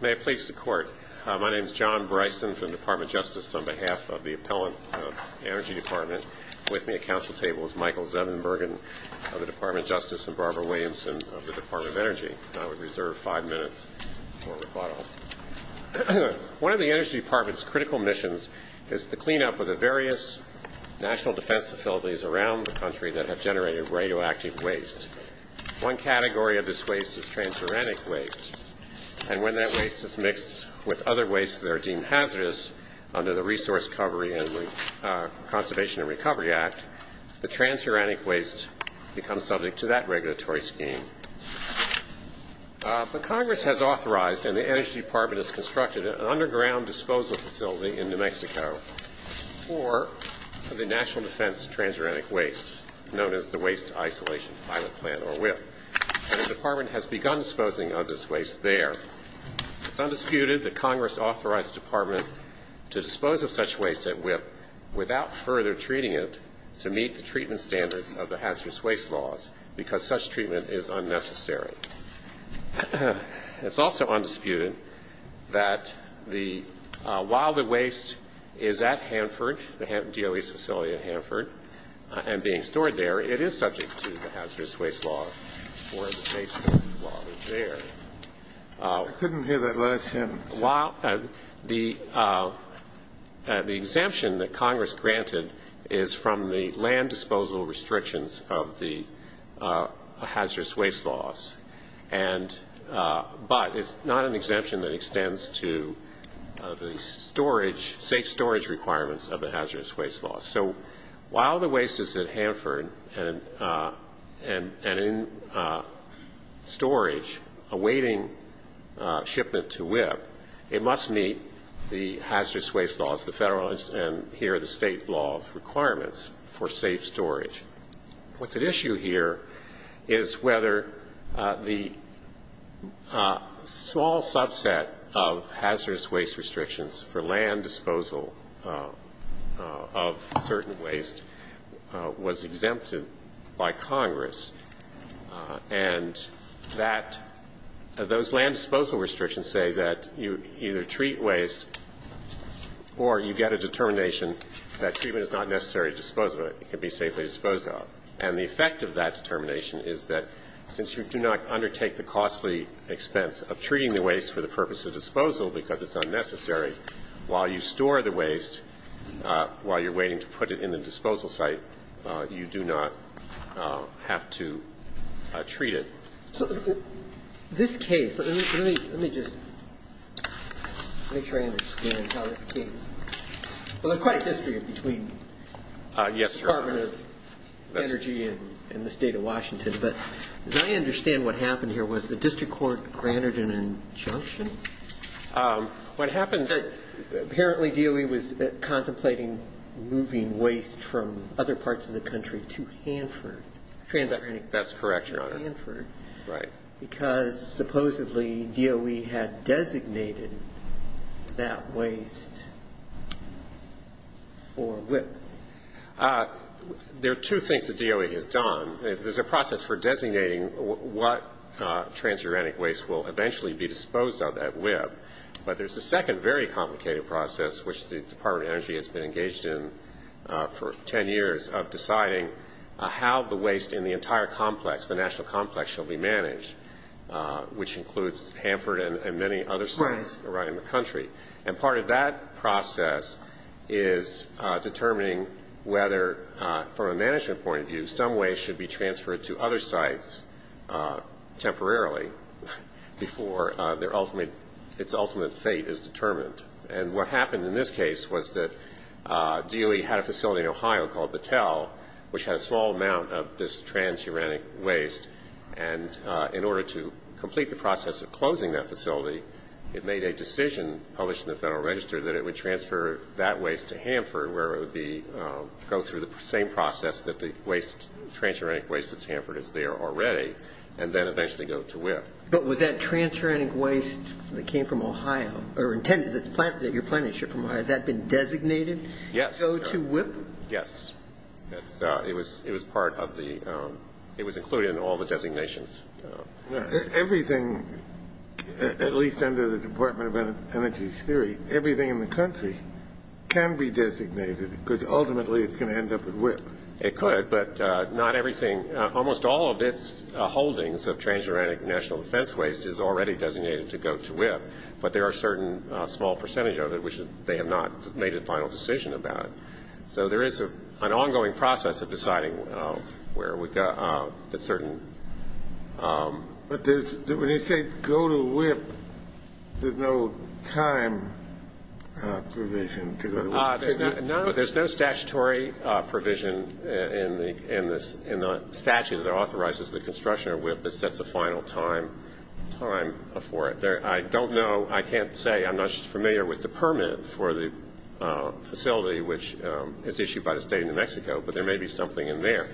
May it please the Court, my name is John Bryson from the Department of Justice on behalf of the Appellant Energy Department. With me at council table is Michael Zevenbergen of the Department of Justice and Barbara Williamson of the Department of Energy. I would reserve five minutes for rebuttal. One of the Energy Department's critical missions is to clean up the various national defense facilities around the country that have generated radioactive waste. One category of this waste is transuranic waste, and when that waste is mixed with other wastes that are deemed hazardous under the Resource Recovery and Conservation and Recovery Act, the transuranic waste becomes subject to that regulatory scheme. But Congress has authorized, and the Energy Department has constructed, an underground disposal facility in New Mexico for the national defense transuranic waste, known as the Waste Isolation Pilot Plant, or WIPP. And the Department has begun disposing of this waste there. It's undisputed that Congress authorized the Department to dispose of such waste at WIPP without further treating it to meet the treatment standards of the hazardous waste laws, because such treatment is unnecessary. It's also undisputed that while the waste is at Hanford, the DOE's facility at Hanford, and being stored there, it is subject to the hazardous waste laws, or the safety laws there. I couldn't hear that last sentence. The exemption that Congress granted is from the land disposal restrictions of the hazardous waste laws, but it's not an exemption that extends to the safe storage requirements of the hazardous waste laws. So while the waste is at Hanford and in storage, awaiting shipment to WIPP, it must meet the hazardous waste laws, the federal and here the state law requirements for safe storage. What's at issue here is whether the small subset of hazardous waste restrictions for land disposal of certain waste was exempted by Congress, and that those land disposal restrictions say that you either treat waste or you get a determination that treatment is not necessary to dispose of it, it can be safely disposed of. And the effect of that determination is that since you do not undertake the costly expense of treating the waste for the purpose of disposal, because it's unnecessary, while you store the waste, while you're waiting to put it in the disposal site, you do not have to treat it. So this case, let me just make sure I understand how this case, well, there's quite a history between the Department of Energy and the State of Washington, but as I understand what happened here was the district court granted an injunction? What happened That apparently DOE was contemplating moving waste from other parts of the country to Hanford. That's correct, Your Honor. To Hanford. Right. Because supposedly DOE had designated that waste for WIPP. There are two things that DOE has done. There's a process for designating what transuranic waste will eventually be disposed of at WIPP, but there's a second very complicated process which the Department of Energy has been engaged in for 10 years of deciding how the waste in the entire complex, the national complex, shall be managed, which includes Hanford and many other sites around the country. And part of that process is determining whether, from a management point of view, some waste should be transferred to other sites temporarily before its ultimate fate is determined. And what happened in this case was that DOE had a facility in Ohio called Battelle, which had a small amount of this transuranic waste, and in order to complete the process of closing that facility, it made a decision published in the Federal Register that it would transfer that waste to Hanford, where it would go through the same process that the transuranic waste at Hanford is there already, and then eventually go to WIPP. But would that transuranic waste that came from Ohio, or intended to be planted, that you're planning to ship from Ohio, has that been designated to go to WIPP? Yes. It was included in all the designations. Now, everything, at least under the Department of Energy's theory, everything in the country can be designated, because ultimately it's going to end up at WIPP. It could, but not everything. Almost all of its holdings of transuranic national defense waste is already designated to go to WIPP, but there are a certain small percentage of them that have not made a final decision about it. So there is an ongoing process of deciding where we've got a certain... But when you say go to WIPP, there's no time provision to go to WIPP? No, there's no statutory provision in the statute that authorizes the construction of WIPP that sets a final time for it. I don't know, I can't say, I'm not just familiar with the permit for the facility, which is issued by the State of New Mexico, but there may be something in there.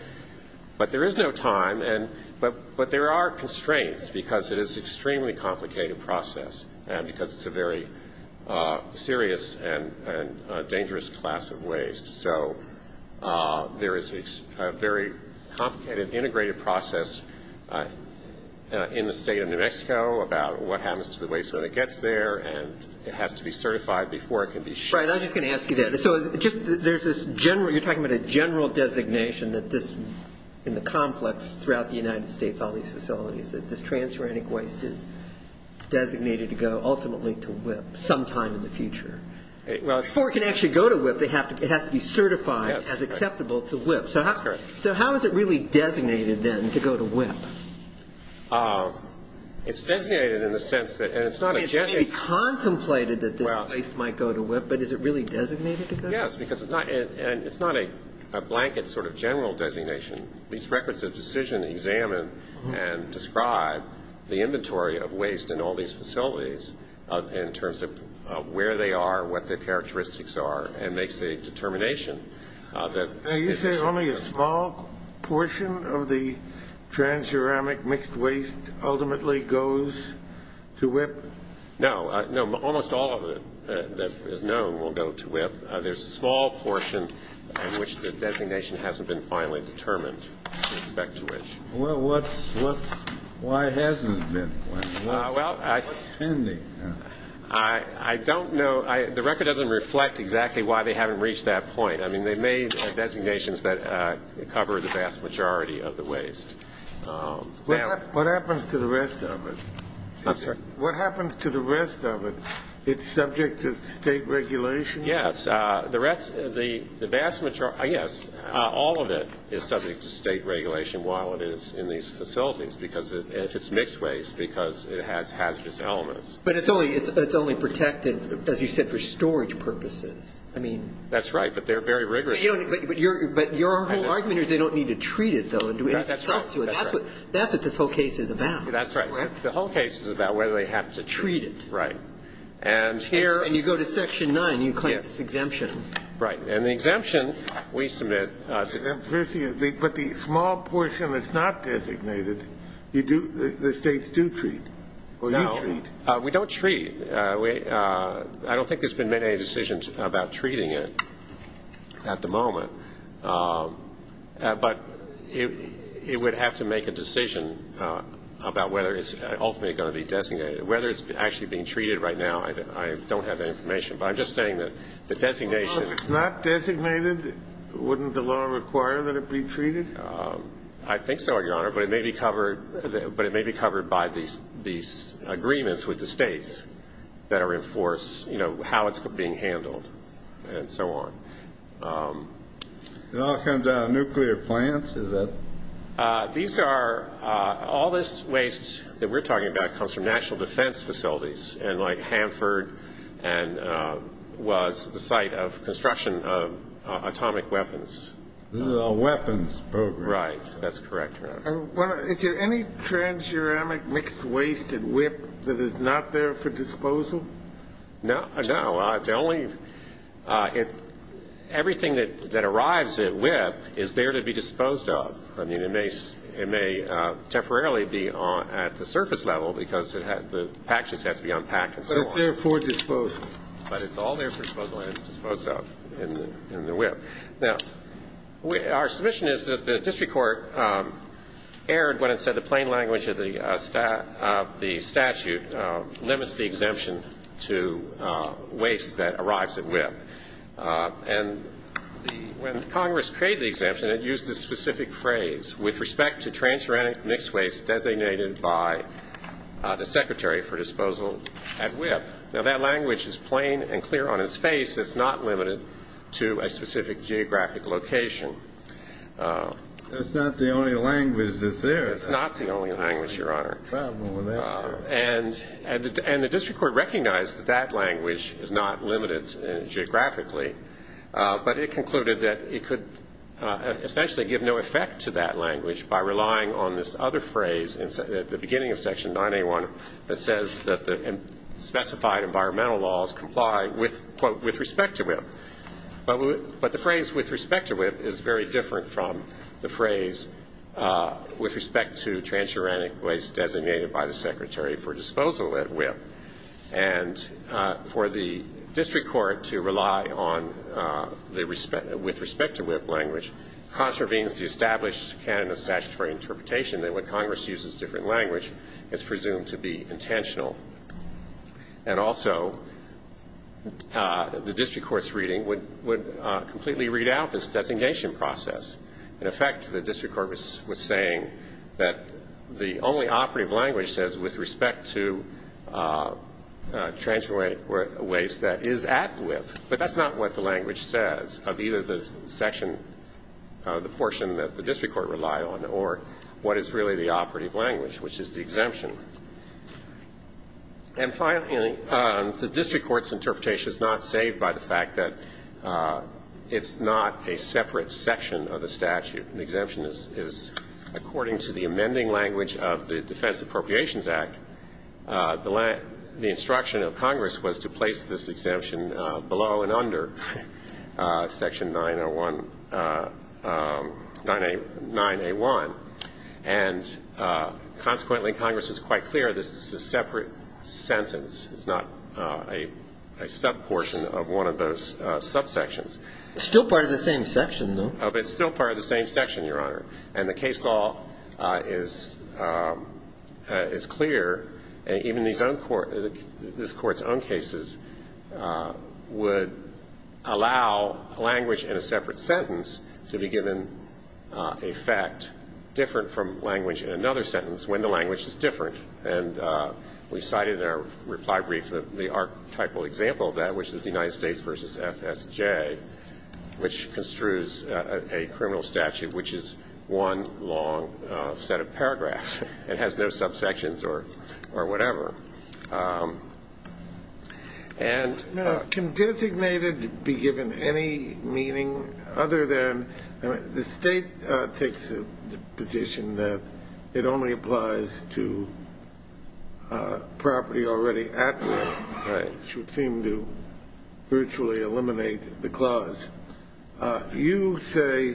But there is no time, but there are constraints, because it is an extremely complicated process, because it's a very serious and dangerous class of waste. So there is a very complicated, integrated process in the State of New Mexico about what has to be certified before it can be shipped. Right, I was just going to ask you that. So there's this general, you're talking about a general designation that this, in the complex throughout the United States, all these facilities, that this transuranic waste is designated to go ultimately to WIPP sometime in the future. Before it can actually go to WIPP, it has to be certified as acceptable to WIPP. That's correct. So how is it really designated then to go to WIPP? It's designated in the sense that, and it's not a general... It's maybe contemplated that this waste might go to WIPP, but is it really designated to go to WIPP? Yes, because it's not, and it's not a blanket sort of general designation. These records of decision examine and describe the inventory of waste in all these facilities in terms of where they are, what their characteristics are, and makes a determination that... Transuranic mixed waste ultimately goes to WIPP? No, almost all of it that is known will go to WIPP. There's a small portion in which the designation hasn't been finally determined with respect to which. Well, why hasn't it been? What's pending now? I don't know. The record doesn't reflect exactly why they haven't reached that point. They made designations that cover the vast majority of the waste. What happens to the rest of it? I'm sorry? What happens to the rest of it? It's subject to state regulation? Yes. All of it is subject to state regulation while it is in these facilities, if it's mixed waste, because it has hazardous elements. But it's only protected, as you said, for storage purposes. That's right, but they're very rigorous. But your whole argument is they don't need to treat it, though, and do anything else to it. That's right. That's what this whole case is about. That's right. The whole case is about whether they have to treat it. Right. And here... And you go to Section 9 and you claim this exemption. Right. And the exemption we submit... But the small portion that's not designated, the states do treat, or you treat? We don't treat. I don't think there's been made any decisions about treating it at the moment. But it would have to make a decision about whether it's ultimately going to be designated. Whether it's actually being treated right now, I don't have that information. But I'm just saying that the designation... Well, if it's not designated, wouldn't the law require that it be treated? I think so, Your Honor, but it may be covered by these agreements with the states that are in force, you know, how it's being handled and so on. It all comes out of nuclear plants, is that...? All this waste that we're talking about comes from national defense facilities, and like Hanford was the site of construction of atomic weapons. This is a weapons program. Right. That's correct, Your Honor. Is there any trans-ceramic mixed waste at WIPP that is not there for disposal? No. No. The only... Everything that arrives at WIPP is there to be disposed of. I mean, it may temporarily be at the surface level because the package has to be unpacked and so on. But it's there for disposal. But it's all there for disposal and it's disposed of in the WIPP. Now, our submission is that the district court erred when it said the plain language of the statute limits the exemption to waste that arrives at WIPP. And when Congress created the exemption, it used a specific phrase, with respect to trans-ceramic mixed waste designated by the secretary for disposal at WIPP. Now, that language is plain and clear on its face. It's not limited to a specific geographic location. It's not the only language that's there. It's not the only language, Your Honor. And the district court recognized that that language is not limited geographically, but it concluded that it could essentially give no effect to that language by relying on this other phrase at the beginning of Section 9A1 that says that the specified environmental laws comply with, quote, with respect to WIPP. But the phrase with respect to WIPP is very different from the phrase with respect to trans-ceramic waste designated by the secretary for disposal at WIPP. And for the district court to rely on the with respect to WIPP language contravenes the established canon of statutory interpretation that what Congress uses as different language is presumed to be intentional. And also, the district court's reading would completely read out this designation process. In effect, the district court was saying that the only operative language says with respect to trans-ceramic waste that is at WIPP. But that's not what the language says of either the section, the portion that the district court relied on or what is really the operative language, which is the exemption. And finally, the district court's interpretation is not saved by the fact that it's not a separate section of the statute. The exemption is according to the amending language of the Defense Appropriations Act. The instruction of Congress was to place this exemption below and under Section 901, 9A1. And consequently, Congress is quite clear this is a separate sentence. It's not a sub-portion of one of those subsections. It's still part of the same section, though. It's still part of the same section, Your Honor. And the case law is clear. Even this Court's own cases would allow language in a separate sentence to be given a fact different from language in another sentence when the language is different. And we cited in our reply brief the archetypal example of that, which is the United States v. FSJ, which construes a criminal statute, which is one long set of paragraphs. It has no subsections or whatever. And can designated be given any meaning other than the State takes the position that it only applies to property already at will, which would seem to virtually eliminate the clause. You say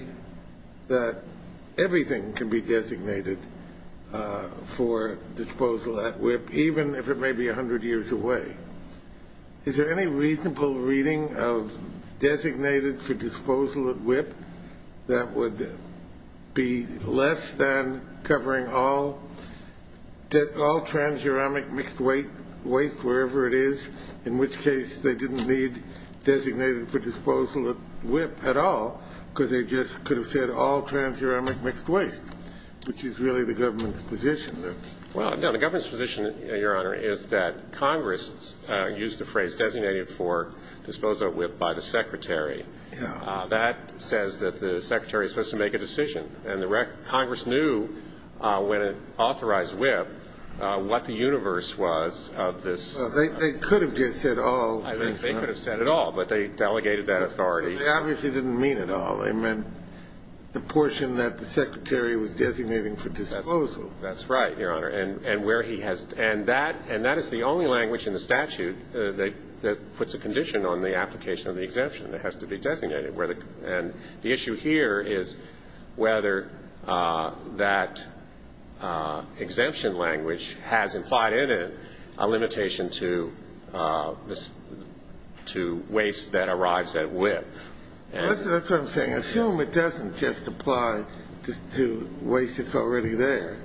that everything can be designated for disposal at whip, even if it may be 100 years away. Is there any reasonable reading of designated for disposal at whip that would be less than covering all trans-uramic mixed waste, wherever it is, in which case they didn't need designated for disposal at whip at all, because they just could have said all trans-uramic mixed waste, which is really the government's position. Well, no. The government's position, Your Honor, is that Congress used the phrase designated for disposal at whip by the Secretary. That says that the Secretary is supposed to make a decision. And the Congress knew when it authorized whip what the universe was of this. They could have just said all. They could have said it all, but they delegated that authority. They obviously didn't mean it all. They meant the portion that the Secretary was designating for disposal. That's right, Your Honor. And where he has to end that. And that is the only language in the statute that puts a condition on the application of the exemption that has to be designated. And the issue here is whether that exemption language has implied in it a limitation to waste that arrives at whip. That's what I'm saying. Assume it doesn't just apply to waste that's already there.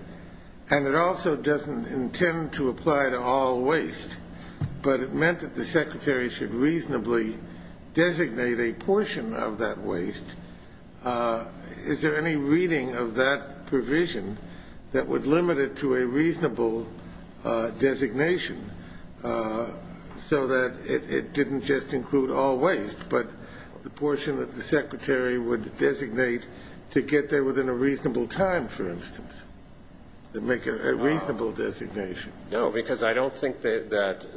And it also doesn't intend to apply to all waste. But it meant that the Secretary should reasonably designate a portion of that waste. Is there any reading of that provision that would limit it to a reasonable designation so that it didn't just include all waste, but the portion that the Secretary would designate to get there within a reasonable time, for instance, to make a reasonable designation? No, because I don't think that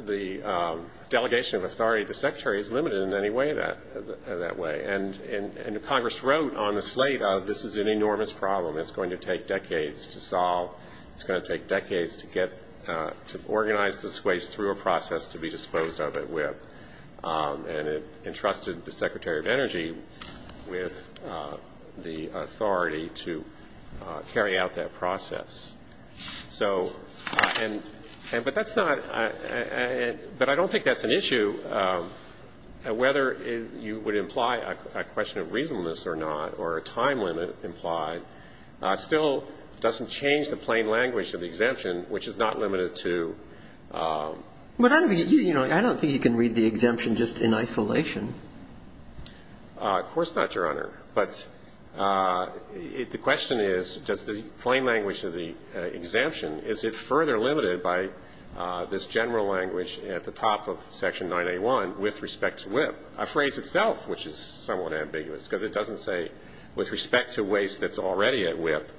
the delegation of authority to the Secretary is limited in any way that way. And Congress wrote on the slate, this is an enormous problem. It's going to take decades to solve. It's going to take decades to organize this waste through a process to be disposed of at whip. And it entrusted the Secretary of Energy with the authority to carry out that process. So, and, but that's not, but I don't think that's an issue. Whether you would imply a question of reasonableness or not, or a time limit implied, still doesn't change the plain language of the exemption, which is not limited to. But I don't think you can read the exemption just in isolation. Of course not, Your Honor. But the question is, does the plain language of the exemption, is it further limited by this general language at the top of Section 981 with respect to whip? A phrase itself, which is somewhat ambiguous, because it doesn't say with respect to waste that's already at whip.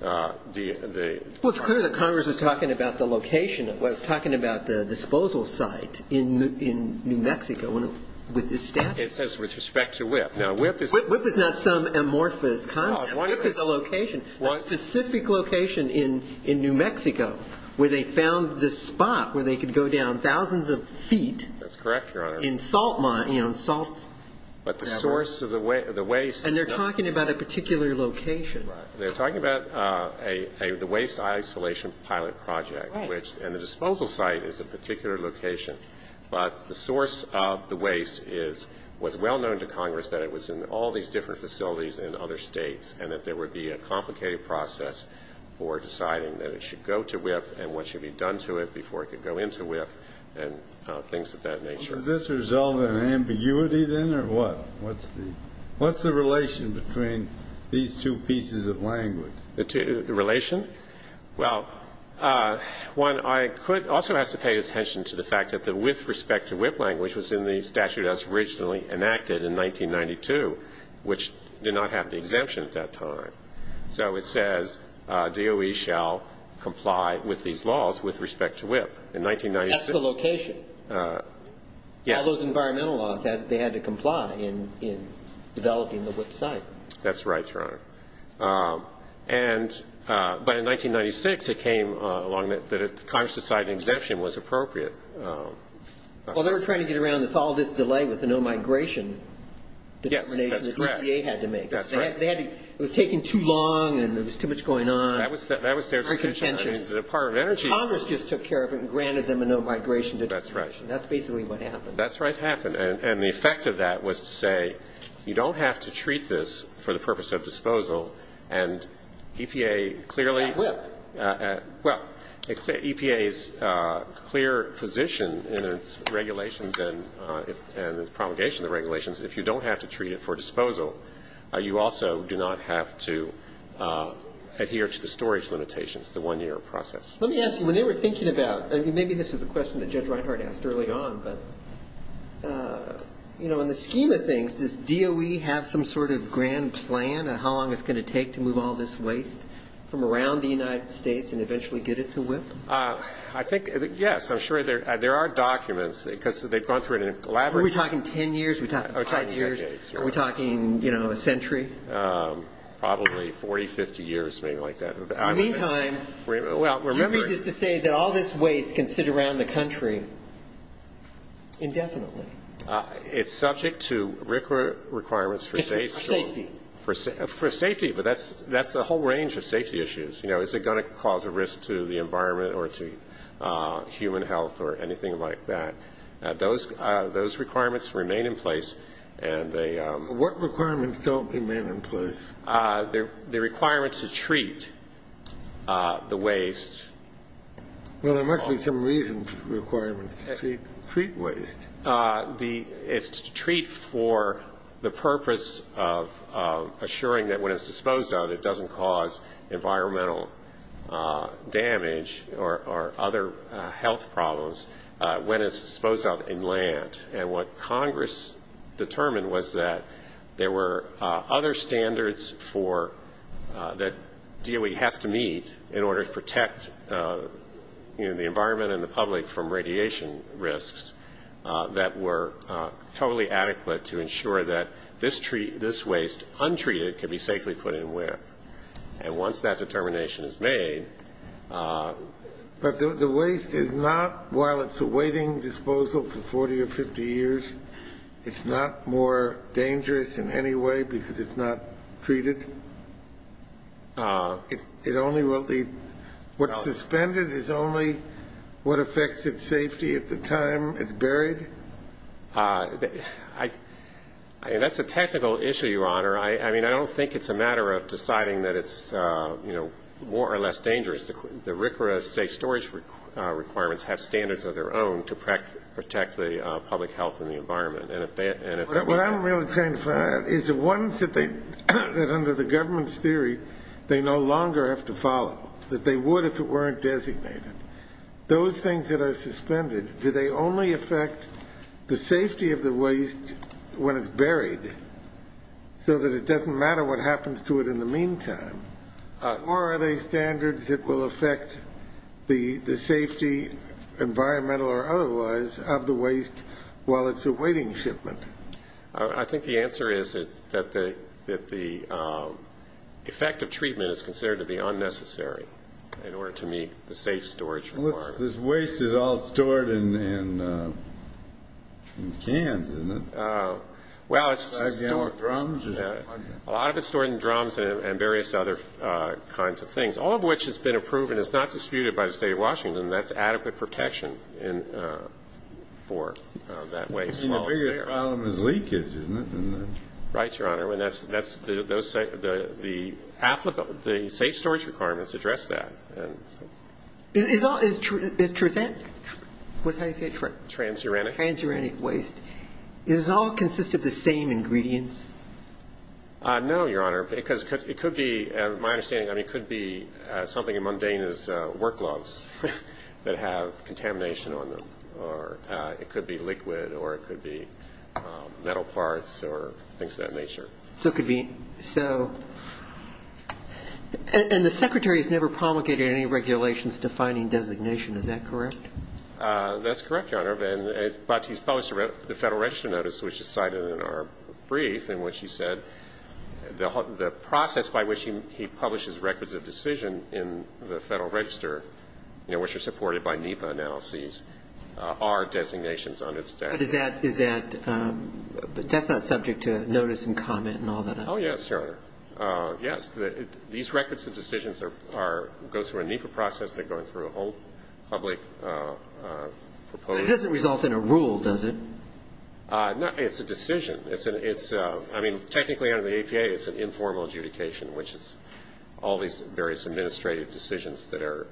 Well, it's clear that Congress is talking about the location. It's talking about the disposal site in New Mexico with this statute. It says with respect to whip. Now, whip is not some amorphous concept. Whip is a location, a specific location in New Mexico, where they found this spot where they could go down thousands of feet. That's correct, Your Honor. In salt, you know, salt. But the source of the waste. And they're talking about a particular location. Right. They're talking about the waste isolation pilot project. Right. And the disposal site is a particular location. But the source of the waste is, was well known to Congress that it was in all these different facilities in other states, and that there would be a complicated process for deciding that it should go to whip and what should be done to it before it could go into whip and things of that nature. Well, does this result in ambiguity, then, or what? What's the relation between these two pieces of language? The relation? Well, one also has to pay attention to the fact that the with respect to whip language was in the statute as originally enacted in 1992, which did not have the exemption at that time. So it says DOE shall comply with these laws with respect to whip. That's the location. Yeah. All those environmental laws, they had to comply in developing the whip site. That's right, Your Honor. But in 1996, it came along that Congress decided an exemption was appropriate. Well, they were trying to get around all this delay with the no-migration determination. Yes, that's correct. The EPA had to make it. That's right. It was taking too long and there was too much going on. That was their decision. It was the Department of Energy. Congress just took care of it and granted them a no-migration determination. That's right. That's basically what happened. That's right, happened. And the effect of that was to say you don't have to treat this for the purpose of disposal and EPA clearly Not whip. Well, EPA's clear position in its regulations and its promulgation of the regulations, if you don't have to treat it for disposal, you also do not have to adhere to the storage limitations, the one-year process. Let me ask you, when they were thinking about Maybe this was a question that Judge Reinhart asked early on, but, you know, in the scheme of things, does DOE have some sort of grand plan of how long it's going to take to move all this waste from around the United States and eventually get it to whip? I think, yes, I'm sure there are documents because they've gone through an elaborate Are we talking ten years? Are we talking five years? Are we talking, you know, a century? Probably 40, 50 years, maybe like that. In the meantime, do you agree just to say that all this waste can sit around the country indefinitely? It's subject to requirements for safety. For safety. For safety, but that's a whole range of safety issues. You know, is it going to cause a risk to the environment or to human health or anything like that? Those requirements remain in place and they What requirements don't remain in place? The requirements to treat the waste Well, there must be some reason for the requirements to treat waste. It's to treat for the purpose of assuring that when it's disposed of, it doesn't cause environmental damage or other health problems when it's disposed of in land. And what Congress determined was that there were other standards for that DOE has to meet in order to protect the environment and the public from radiation risks that were totally adequate to ensure that this waste, untreated, can be safely put in ware. And once that determination is made But the waste is not, while it's a waiting disposal for 40 or 50 years, it's not more dangerous in any way because it's not treated? It only will be What's suspended is only what affects its safety at the time it's buried? That's a technical issue, Your Honor. I mean, I don't think it's a matter of deciding that it's more or less dangerous. The RCRA safe storage requirements have standards of their own to protect the public health and the environment. What I'm really trying to find out is the ones that under the government's theory they no longer have to follow, that they would if it weren't designated. Those things that are suspended, do they only affect the safety of the waste when it's buried so that it doesn't matter what happens to it in the meantime? Or are they standards that will affect the safety, environmental or otherwise, of the waste while it's a waiting shipment? I think the answer is that the effect of treatment is considered to be unnecessary in order to meet the safe storage requirements. This waste is all stored in cans, isn't it? Well, it's stored in drums and various other kinds of things, all of which has been approved and is not disputed by the State of Washington, and that's adequate protection for that waste while it's there. The biggest problem is leakage, isn't it? Right, Your Honor. The safe storage requirements address that. What did I say? Transuranic. Transuranic waste. Does this all consist of the same ingredients? No, Your Honor, because it could be, my understanding, it could be something as mundane as work gloves that have contamination on them, or it could be liquid or it could be metal parts or things of that nature. And the Secretary has never promulgated any regulations defining designation, is that correct? That's correct, Your Honor, but he's published the Federal Register Notice, which is cited in our brief, in which he said the process by which he publishes records of decision in the Federal Register, which are supported by NEPA analyses, are designations on its desk. But does that, is that, that's not subject to notice and comment and all that? Oh, yes, Your Honor, yes. These records of decisions are, go through a NEPA process. They're going through a whole public proposal. It doesn't result in a rule, does it? No, it's a decision. It's, I mean, technically under the APA it's an informal adjudication, which is all these various administrative decisions that are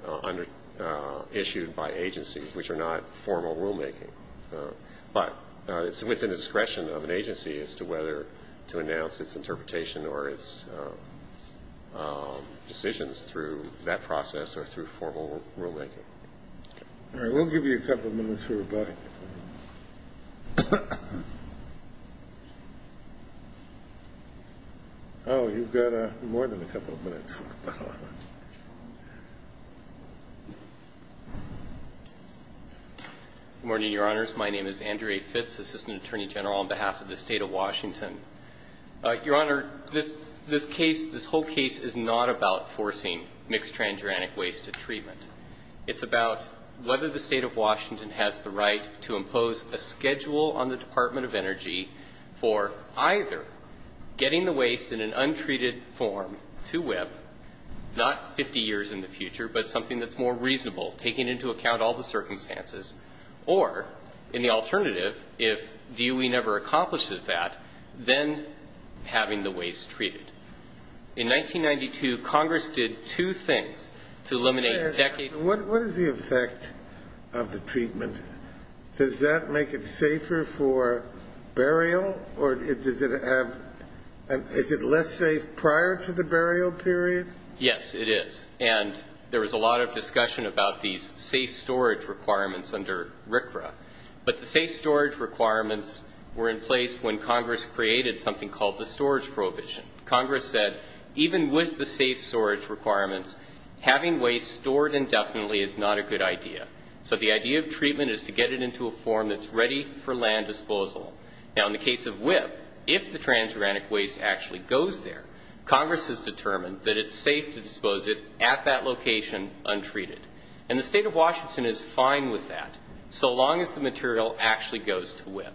issued by agencies which are not formal rulemaking. But it's within the discretion of an agency as to whether to announce its interpretation or its decisions through that process or through formal rulemaking. All right, we'll give you a couple of minutes for rebuttal. Oh, you've got more than a couple of minutes. Good morning, Your Honors. My name is Andrew A. Fitz, Assistant Attorney General on behalf of the State of Washington. Your Honor, this case, this whole case is not about forcing mixed transuranic waste to treatment. It's about whether the State of Washington has the right to impose a schedule on the Department of Energy for either getting the waste in an untreated form to WIPP, not 50 years in the future, but something that's more reasonable, taking into account all the circumstances. Or, in the alternative, if DOE never accomplishes that, then having the waste treated. In 1992, Congress did two things to eliminate decades of waste. What is the effect of the treatment? Does that make it safer for burial? Or is it less safe prior to the burial period? Yes, it is. And there was a lot of discussion about these safe storage requirements under RCRA. But the safe storage requirements were in place when Congress created something called the storage prohibition. Congress said, even with the safe storage requirements, having waste stored indefinitely is not a good idea. So the idea of treatment is to get it into a form that's ready for land disposal. Now, in the case of WIPP, if the transuranic waste actually goes there, Congress has determined that it's safe to dispose it at that location, untreated. And the State of Washington is fine with that, so long as the material actually goes to WIPP.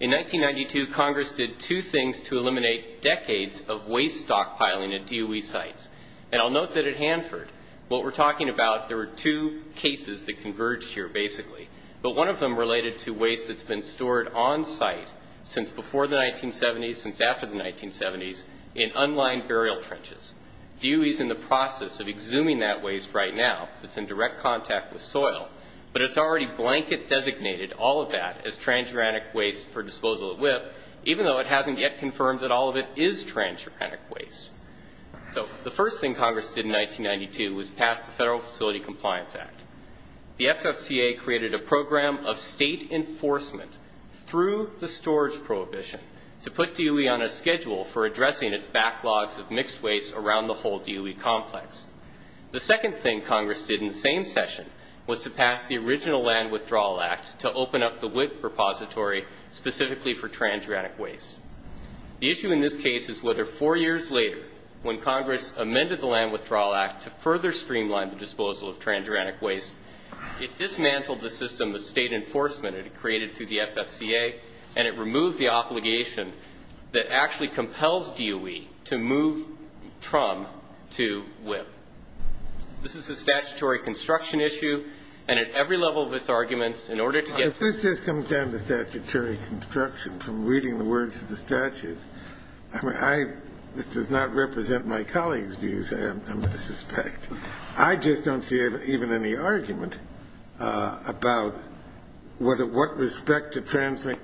In 1992, Congress did two things to eliminate decades of waste stockpiling at DOE sites. And I'll note that at Hanford, what we're talking about, there were two cases that converged here, basically. But one of them related to waste that's been stored on site since before the 1970s, since after the 1970s, in unlined burial trenches. DOE is in the process of exhuming that waste right now. It's in direct contact with soil. But it's already blanket designated, all of that, as transuranic waste for disposal at WIPP, even though it hasn't yet confirmed that all of it is transuranic waste. So the first thing Congress did in 1992 was pass the Federal Facility Compliance Act. The FFCA created a program of state enforcement through the storage prohibition to put DOE on a schedule for addressing its backlogs of mixed waste around the whole DOE complex. The second thing Congress did in the same session was to pass the original Land Withdrawal Act to open up the WIPP repository specifically for transuranic waste. The issue in this case is whether four years later, when Congress amended the Land Withdrawal Act to further streamline the disposal of transuranic waste, it dismantled the system of state enforcement it had created through the FFCA, and it removed the obligation that actually compels DOE to move TRUMP to WIPP. This is a statutory construction issue, and at every level of its arguments, in order to get this to happen I mean, this does not represent my colleagues' views, I suspect. I just don't see even any argument about what respect to transuranic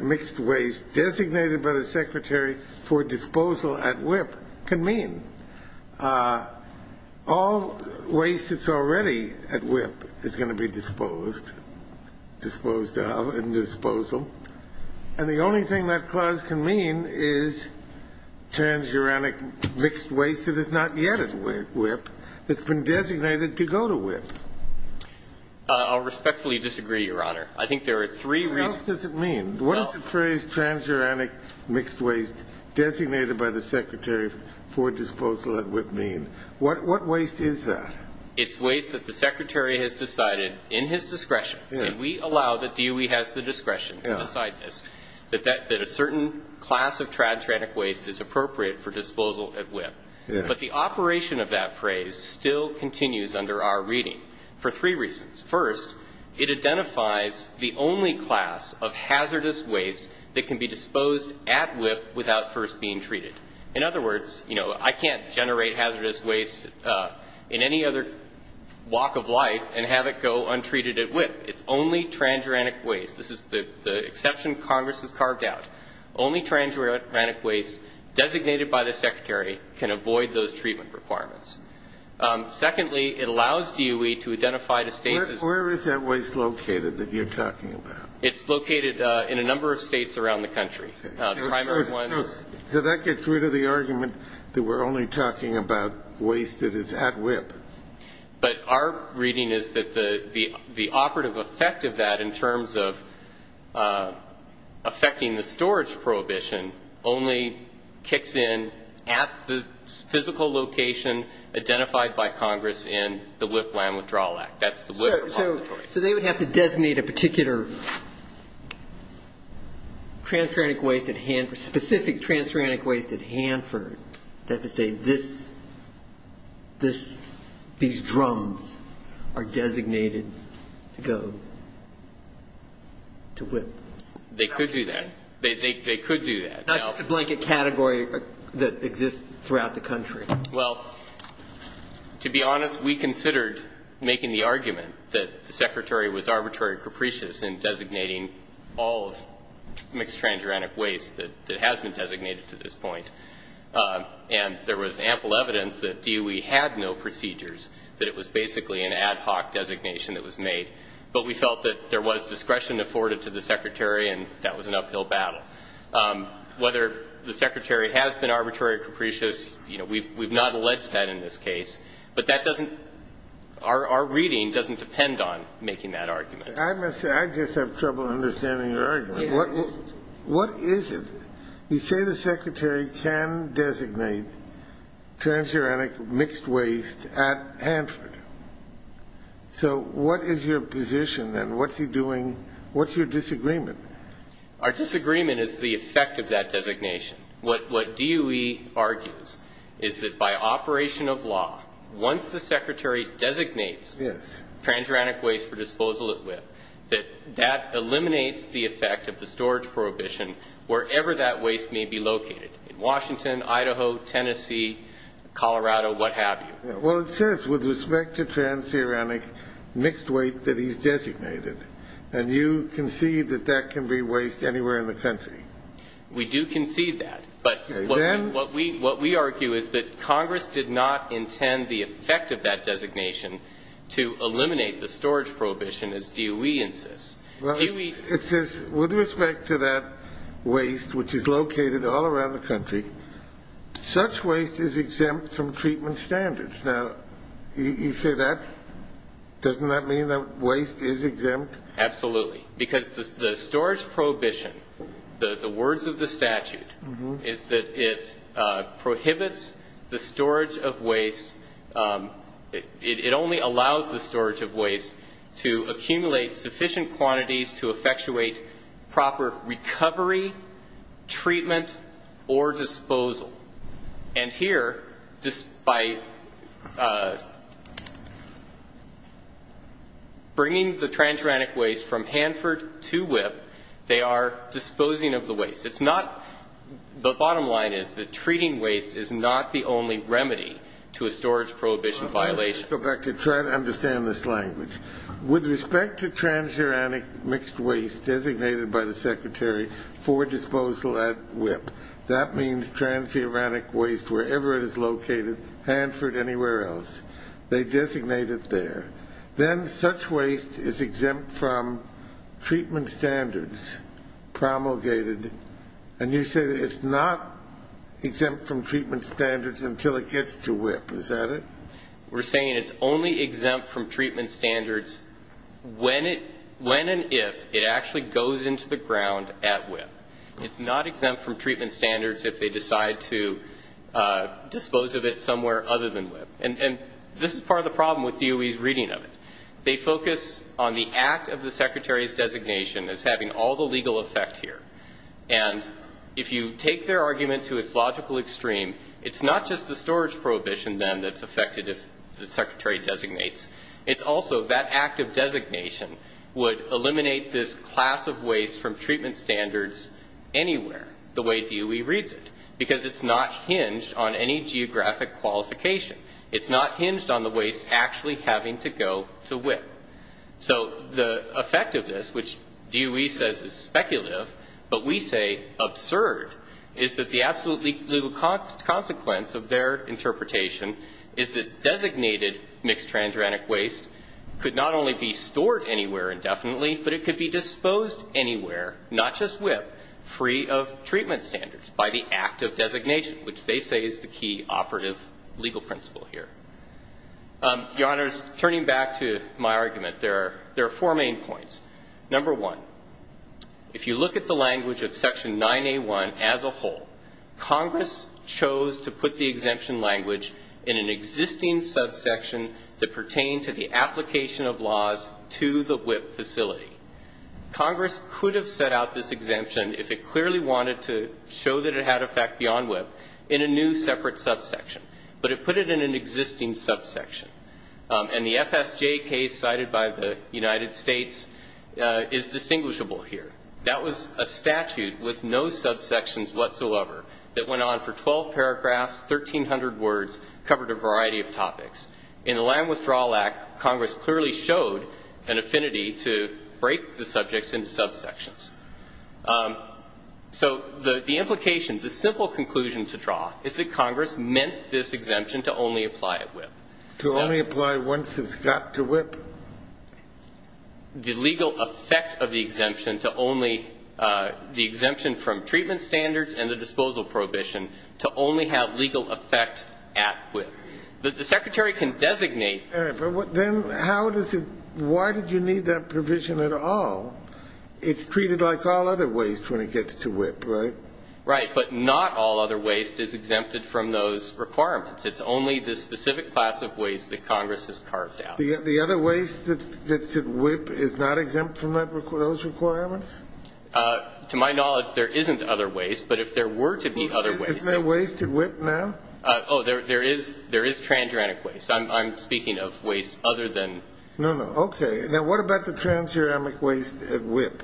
mixed waste designated by the Secretary for Disposal at WIPP can mean. All waste that's already at WIPP is going to be disposed, disposed of in disposal. And the only thing that clause can mean is transuranic mixed waste that is not yet at WIPP, that's been designated to go to WIPP. I'll respectfully disagree, Your Honor. I think there are three reasons. What else does it mean? What does the phrase transuranic mixed waste designated by the Secretary for Disposal at WIPP mean? What waste is that? It's waste that the Secretary has decided in his discretion, and we allow that DOE has the discretion to decide this, that a certain class of transuranic waste is appropriate for disposal at WIPP. But the operation of that phrase still continues under our reading for three reasons. First, it identifies the only class of hazardous waste that can be disposed at WIPP without first being treated. In other words, you know, I can't generate hazardous waste in any other walk of life and have it go untreated at WIPP. It's only transuranic waste. This is the exception Congress has carved out. Only transuranic waste designated by the Secretary can avoid those treatment requirements. Secondly, it allows DOE to identify the states as Where is that waste located that you're talking about? It's located in a number of states around the country. So that gets rid of the argument that we're only talking about waste that is at WIPP. But our reading is that the operative effect of that in terms of affecting the storage prohibition only kicks in at the physical location identified by Congress in the WIPP Land Withdrawal Act. That's the WIPP repository. So they would have to designate a particular transuranic waste at Hanford, specific transuranic waste at Hanford that would say these drums are designated to go to WIPP. They could do that. They could do that. Not just a blanket category that exists throughout the country. Well, to be honest, we considered making the argument that the Secretary was arbitrarily capricious in designating all of mixed transuranic waste that has been designated to this point. And there was ample evidence that DOE had no procedures, that it was basically an ad hoc designation that was made. But we felt that there was discretion afforded to the Secretary, and that was an uphill battle. Whether the Secretary has been arbitrarily capricious, you know, we've not alleged that in this case. But that doesn't – our reading doesn't depend on making that argument. I must say, I just have trouble understanding your argument. What is it? You say the Secretary can designate transuranic mixed waste at Hanford. So what is your position, then? What's he doing – what's your disagreement? Our disagreement is the effect of that designation. What DOE argues is that by operation of law, once the Secretary designates transuranic waste for disposal at WIPP, that that eliminates the effect of the storage prohibition wherever that waste may be located, in Washington, Idaho, Tennessee, Colorado, what have you. Well, it says with respect to transuranic mixed waste that he's designated. And you concede that that can be waste anywhere in the country. We do concede that. But what we argue is that Congress did not intend the effect of that designation to eliminate the storage prohibition, as DOE insists. It says with respect to that waste, which is located all around the country, such waste is exempt from treatment standards. Now, you say that, doesn't that mean that waste is exempt? Absolutely. Because the storage prohibition, the words of the statute, is that it prohibits the storage of waste. It only allows the storage of waste to accumulate sufficient quantities to effectuate proper recovery, treatment, or disposal. And here, by bringing the transuranic waste from Hanford to WIPP, they are disposing of the waste. The bottom line is that treating waste is not the only remedy to a storage prohibition violation. Let me go back to try to understand this language. With respect to transuranic mixed waste designated by the Secretary for Disposal at WIPP, that means transuranic waste wherever it is located, Hanford, anywhere else. They designate it there. Then such waste is exempt from treatment standards promulgated, and you say that it's not exempt from treatment standards until it gets to WIPP. Is that it? We're saying it's only exempt from treatment standards when and if it actually goes into the ground at WIPP. It's not exempt from treatment standards if they decide to dispose of it somewhere other than WIPP. And this is part of the problem with DOE's reading of it. They focus on the act of the Secretary's designation as having all the legal effect here. And if you take their argument to its logical extreme, it's not just the storage prohibition then that's affected if the Secretary designates. It's also that act of designation would eliminate this class of waste from treatment standards anywhere the way DOE reads it It's not hinged on the waste actually having to go to WIPP. So the effect of this, which DOE says is speculative, but we say absurd, is that the absolute legal consequence of their interpretation is that designated mixed transuranic waste could not only be stored anywhere indefinitely, but it could be disposed anywhere, not just WIPP, free of treatment standards by the act of designation, which they say is the key operative legal principle here. Your Honors, turning back to my argument, there are four main points. Number one, if you look at the language of Section 9A1 as a whole, Congress chose to put the exemption language in an existing subsection that pertained to the application of laws to the WIPP facility. Congress could have set out this exemption if it clearly wanted to show that it had effect beyond WIPP in a new separate subsection, but it put it in an existing subsection. And the FSJ case cited by the United States is distinguishable here. That was a statute with no subsections whatsoever that went on for 12 paragraphs, 1,300 words, covered a variety of topics. In the Land Withdrawal Act, Congress clearly showed an affinity to break the subjects into subsections. So the implication, the simple conclusion to draw is that Congress meant this exemption to only apply at WIPP. To only apply once it's got to WIPP? The legal effect of the exemption to only the exemption from treatment standards and the disposal prohibition to only have legal effect at WIPP. The Secretary can designate. Then how does it why did you need that provision at all? It's treated like all other waste when it gets to WIPP, right? Right. But not all other waste is exempted from those requirements. It's only the specific class of waste that Congress has carved out. The other waste that's at WIPP is not exempt from those requirements? To my knowledge, there isn't other waste. But if there were to be other waste. Isn't there waste at WIPP now? Oh, there is transuranic waste. I'm speaking of waste other than. No, no. Okay. Now, what about the transuranic waste at WIPP?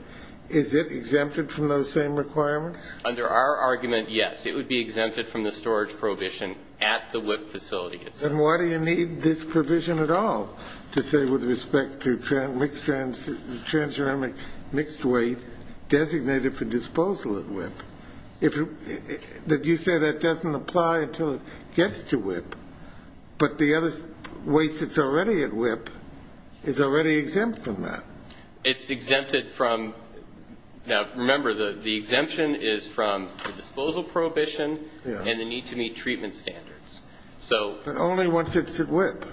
Is it exempted from those same requirements? Under our argument, yes. It would be exempted from the storage prohibition at the WIPP facility. Then why do you need this provision at all to say with respect to transuranic mixed waste designated for disposal at WIPP? You say that doesn't apply until it gets to WIPP. But the other waste that's already at WIPP is already exempt from that. It's exempted from... Now, remember, the exemption is from the disposal prohibition and the need to meet treatment standards. But only once it's at WIPP.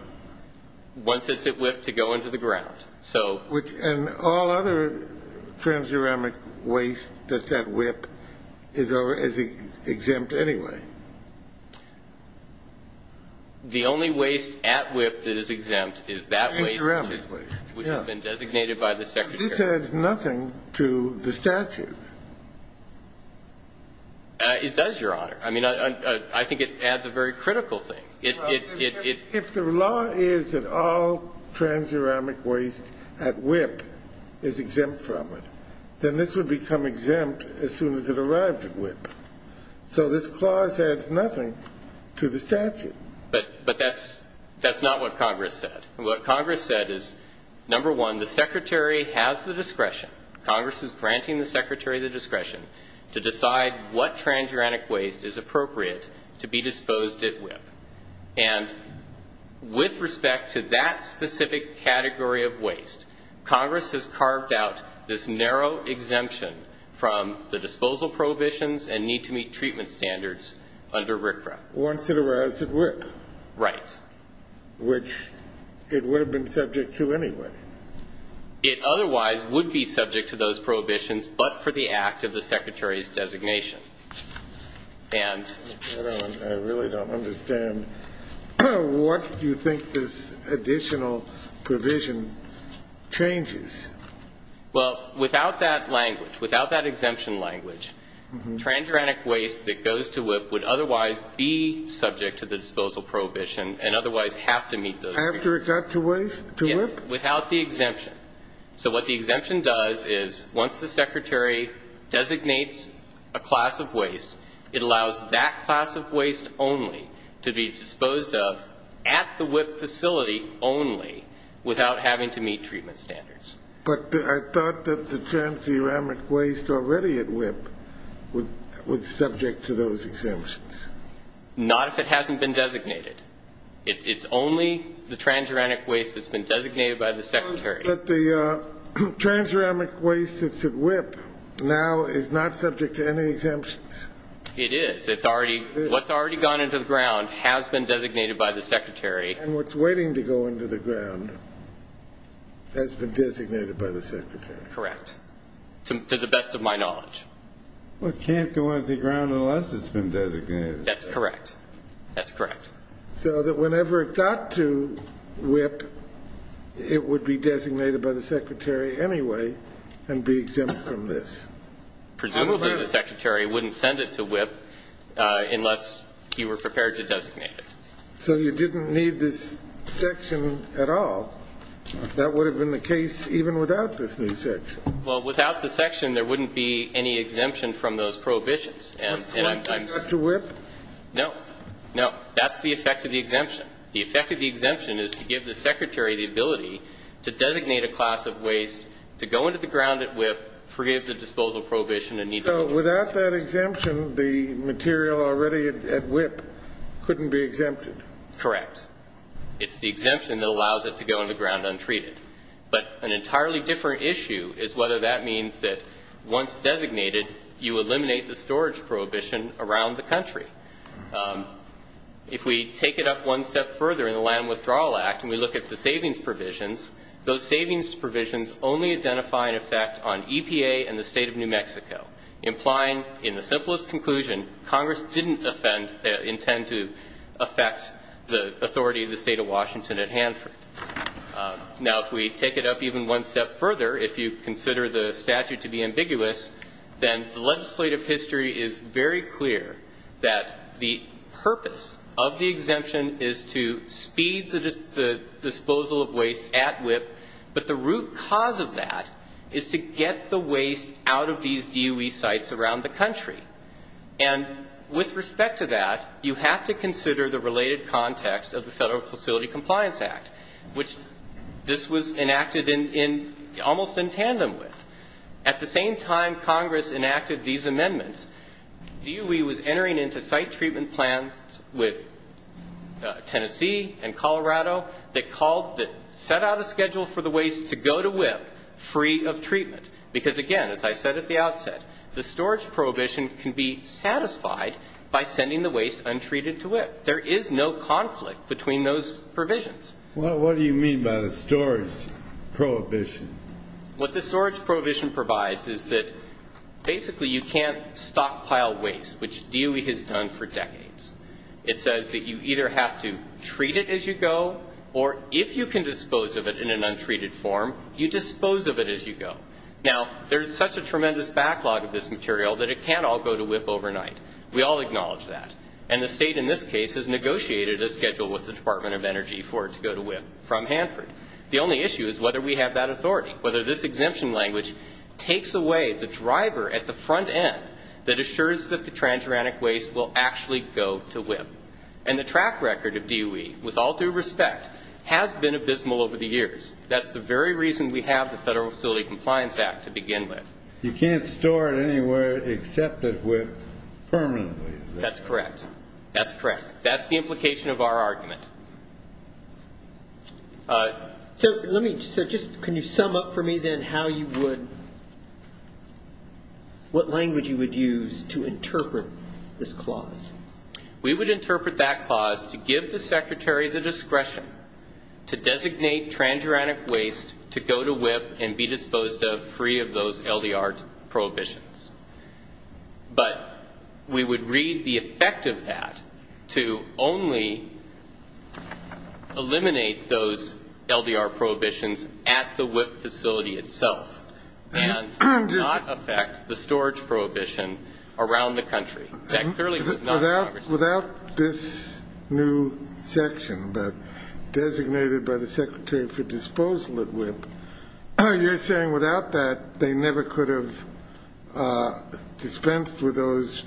Once it's at WIPP to go into the ground. And all other transuranic waste that's at WIPP is exempt anyway? The only waste at WIPP that is exempt is that waste. Transuranic waste. Which has been designated by the Secretary. This adds nothing to the statute. It does, Your Honor. I mean, I think it adds a very critical thing. If the law is that all transuranic waste at WIPP is exempt from it, then this would become exempt as soon as it arrived at WIPP. So this clause adds nothing to the statute. But that's not what Congress said. What Congress said is, number one, the Secretary has the discretion. Congress is granting the Secretary the discretion to decide what transuranic waste is appropriate to be disposed at WIPP. And with respect to that specific category of waste, Congress has carved out this narrow exemption from the disposal prohibitions and need to meet treatment standards under RCRA. Once it arrives at WIPP. Right. Which it would have been subject to anyway. It otherwise would be subject to those prohibitions, but for the act of the Secretary's designation. I really don't understand what you think this additional provision changes. Well, without that language, without that exemption language, transuranic waste that goes to WIPP would otherwise be subject to the disposal prohibition and otherwise have to meet those conditions. After it got to WIPP? Yes, without the exemption. So what the exemption does is once the Secretary designates a class of waste, it allows that class of waste only to be disposed of at the WIPP facility only without having to meet treatment standards. But I thought that the transuranic waste already at WIPP was subject to those exemptions. Not if it hasn't been designated. It's only the transuranic waste that's been designated by the Secretary. But the transuranic waste that's at WIPP now is not subject to any exemptions? It is. What's already gone into the ground has been designated by the Secretary. And what's waiting to go into the ground has been designated by the Secretary. Correct, to the best of my knowledge. Well, it can't go into the ground unless it's been designated. That's correct. That's correct. So that whenever it got to WIPP, it would be designated by the Secretary anyway and be exempt from this. Presumably the Secretary wouldn't send it to WIPP unless he were prepared to designate it. So you didn't need this section at all. That would have been the case even without this new section. Well, without the section, there wouldn't be any exemption from those prohibitions. Once it got to WIPP? No. No. That's the effect of the exemption. The effect of the exemption is to give the Secretary the ability to designate a class of waste to go into the ground at WIPP free of the disposal prohibition. So without that exemption, the material already at WIPP couldn't be exempted? Correct. It's the exemption that allows it to go into the ground untreated. But an entirely different issue is whether that means that once designated, you eliminate the storage prohibition around the country. If we take it up one step further in the Land Withdrawal Act and we look at the savings provisions, those savings provisions only identify an effect on EPA and the State of New Mexico, implying in the simplest conclusion Congress didn't intend to affect the authority of the State of Washington at Hanford. Now, if we take it up even one step further, if you consider the statute to be ambiguous, then the legislative history is very clear that the purpose of the exemption is to speed the disposal of waste at WIPP, but the root cause of that is to get the waste out of these DOE sites around the country. And with respect to that, you have to consider the related context of the Federal Facility Compliance Act, which this was enacted in almost in tandem with. At the same time Congress enacted these amendments, DOE was entering into site treatment plans with Tennessee and Colorado that set out a schedule for the waste to go to WIPP free of treatment. Because, again, as I said at the outset, the storage prohibition can be satisfied by sending the waste untreated to WIPP. There is no conflict between those provisions. What do you mean by the storage prohibition? What the storage prohibition provides is that basically you can't stockpile waste, which DOE has done for decades. It says that you either have to treat it as you go, or if you can dispose of it in an untreated form, you dispose of it as you go. Now, there's such a tremendous backlog of this material that it can't all go to WIPP overnight. We all acknowledge that. And the state in this case has negotiated a schedule with the Department of Energy for it to go to WIPP from Hanford. The only issue is whether we have that authority, whether this exemption language takes away the driver at the front end that assures that the transuranic waste will actually go to WIPP. And the track record of DOE, with all due respect, has been abysmal over the years. That's the very reason we have the Federal Facility Compliance Act to begin with. You can't store it anywhere except at WIPP permanently. That's correct. That's correct. That's the implication of our argument. So just can you sum up for me then how you would, what language you would use to interpret this clause? We would interpret that clause to give the Secretary the discretion to designate transuranic waste to go to WIPP and be disposed of free of those LDR prohibitions. But we would read the effect of that to only eliminate those LDR prohibitions at the WIPP facility itself and not affect the storage prohibition around the country. Without this new section designated by the Secretary for Disposal at WIPP, you're saying without that they never could have dispensed with those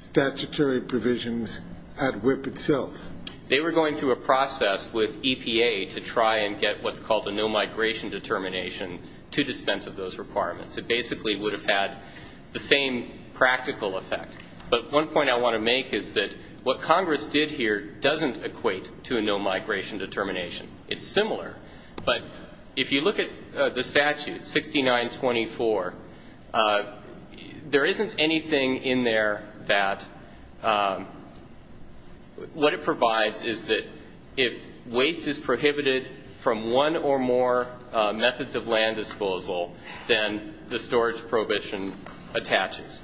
statutory provisions at WIPP itself? They were going through a process with EPA to try and get what's called a no-migration determination to dispense of those requirements. It basically would have had the same practical effect. But one point I want to make is that what Congress did here doesn't equate to a no-migration determination. It's similar. But if you look at the statute, 6924, there isn't anything in there that, what it provides is that if waste is prohibited from one or more methods of land disposal, then the storage prohibition attaches.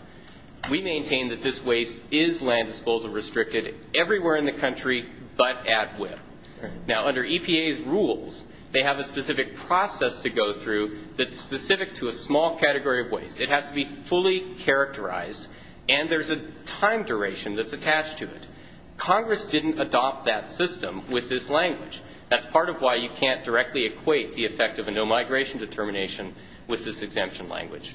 We maintain that this waste is land disposal restricted everywhere in the country but at WIPP. Now, under EPA's rules, they have a specific process to go through that's specific to a small category of waste. It has to be fully characterized, and there's a time duration that's attached to it. Congress didn't adopt that system with this language. That's part of why you can't directly equate the effect of a no-migration determination with this exemption language.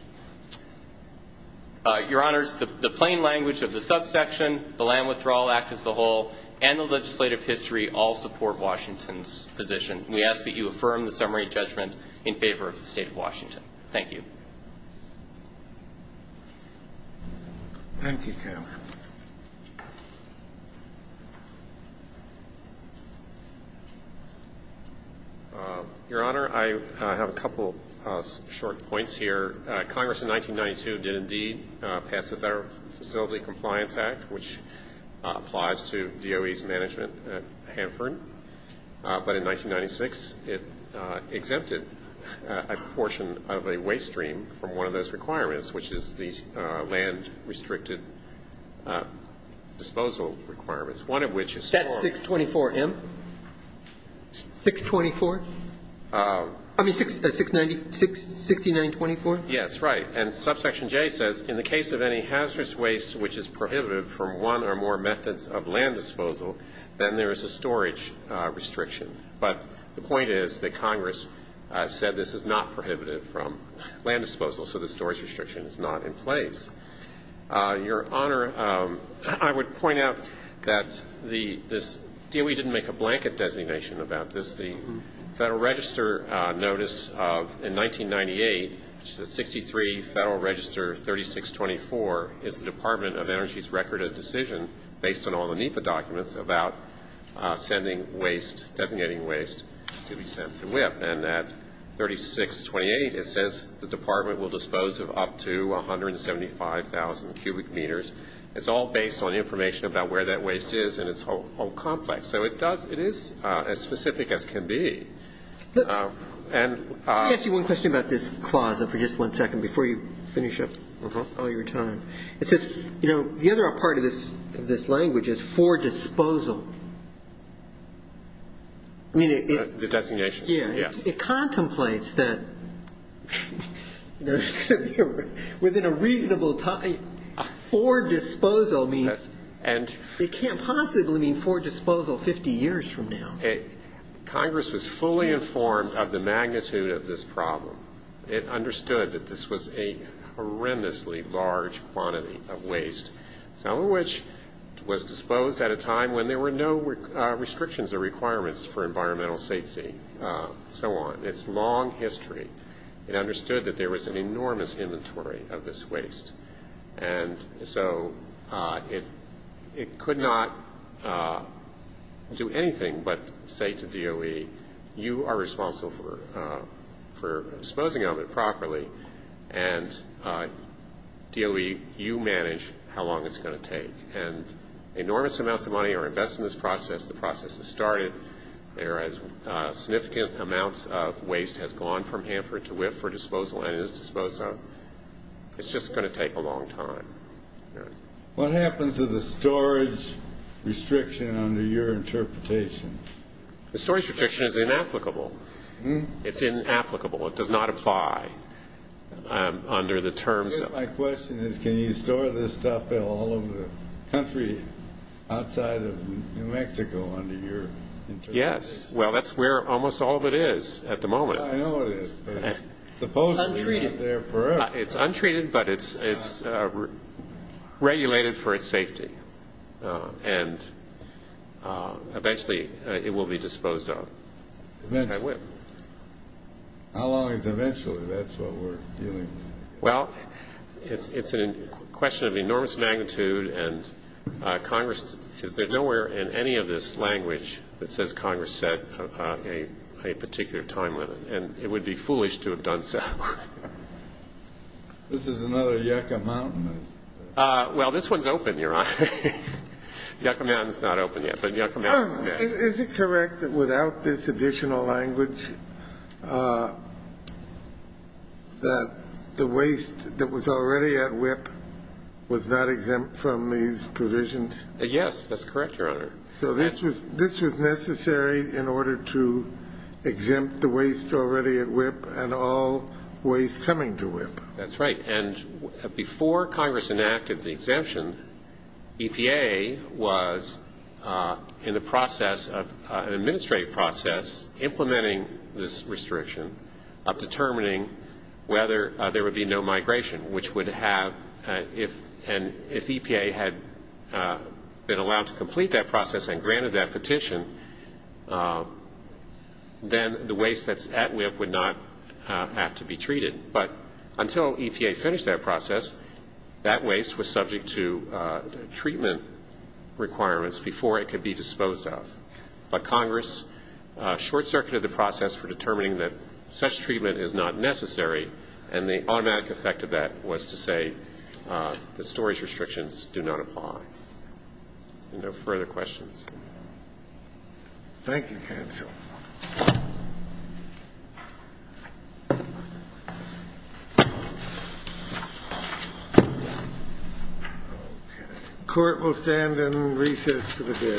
Your Honors, the plain language of the subsection, the Land Withdrawal Act as the whole, and the legislative history all support Washington's position. We ask that you affirm the summary judgment in favor of the State of Washington. Thank you. Thank you, Kevin. Your Honor, I have a couple short points here. Congress in 1992 did indeed pass the Federal Facility Compliance Act, which applies to DOE's management at Hanford. But in 1996, it exempted a portion of a waste stream from one of those requirements, which is the land restricted disposal requirements, one of which is small. That's 624M? 624? I mean 6924? Yes, right. And subsection J says, in the case of any hazardous waste which is prohibitive from one or more methods of land disposal, then there is a storage restriction. But the point is that Congress said this is not prohibitive from land disposal, so the storage restriction is not in place. Your Honor, I would point out that this DOE didn't make a blanket designation about this. The Federal Register notice of 1998, which is at 63 Federal Register 3624, is the Department of Energy's record of decision, based on all the NEPA documents, about sending waste, designating waste to be sent to WIPP. And at 3628, it says the Department will dispose of up to 175,000 cubic meters. It's all based on information about where that waste is and its whole complex. So it is as specific as can be. Let me ask you one question about this clause for just one second before you finish up all your time. It says the other part of this language is for disposal. The designation, yes. It contemplates that within a reasonable time, For disposal means it can't possibly mean for disposal 50 years from now. Congress was fully informed of the magnitude of this problem. It understood that this was a horrendously large quantity of waste, some of which was disposed at a time when there were no restrictions or requirements for environmental safety and so on. It's long history. It understood that there was an enormous inventory of this waste. And so it could not do anything but say to DOE, you are responsible for disposing of it properly, and DOE, you manage how long it's going to take. And enormous amounts of money are invested in this process. The process has started. Significant amounts of waste has gone from Hanford to Whiff for disposal and is disposed of. It's just going to take a long time. What happens to the storage restriction under your interpretation? The storage restriction is inapplicable. It's inapplicable. It does not apply under the terms. My question is can you store this stuff all over the country outside of New Mexico under your interpretation? Yes. Well, that's where almost all of it is at the moment. I know it is. Untreated. It's untreated, but it's regulated for its safety. And eventually it will be disposed of. How long is eventually? That's what we're dealing with. Well, it's a question of enormous magnitude, and Congress, is there nowhere in any of this language that says Congress set a particular time limit? And it would be foolish to have done so. This is another yucca mountain. Well, this one's open, Your Honor. Yucca mountain's not open yet, but yucca mountain's next. Is it correct that without this additional language that the waste that was already at Whiff was not exempt from these provisions? Yes, that's correct, Your Honor. So this was necessary in order to exempt the waste already at Whiff and all waste coming to Whiff? That's right. And before Congress enacted the exemption, EPA was in the process of an administrative process implementing this restriction of determining whether there would be no migration, which would have, and if EPA had been allowed to complete that process and granted that petition, then the waste that's at Whiff would not have to be treated. But until EPA finished that process, that waste was subject to treatment requirements before it could be disposed of. But Congress short-circuited the process for determining that such treatment is not necessary, and the automatic effect of that was to say the storage restrictions do not apply. Are there no further questions? Thank you, counsel. Okay. Court will stand and recess for the day.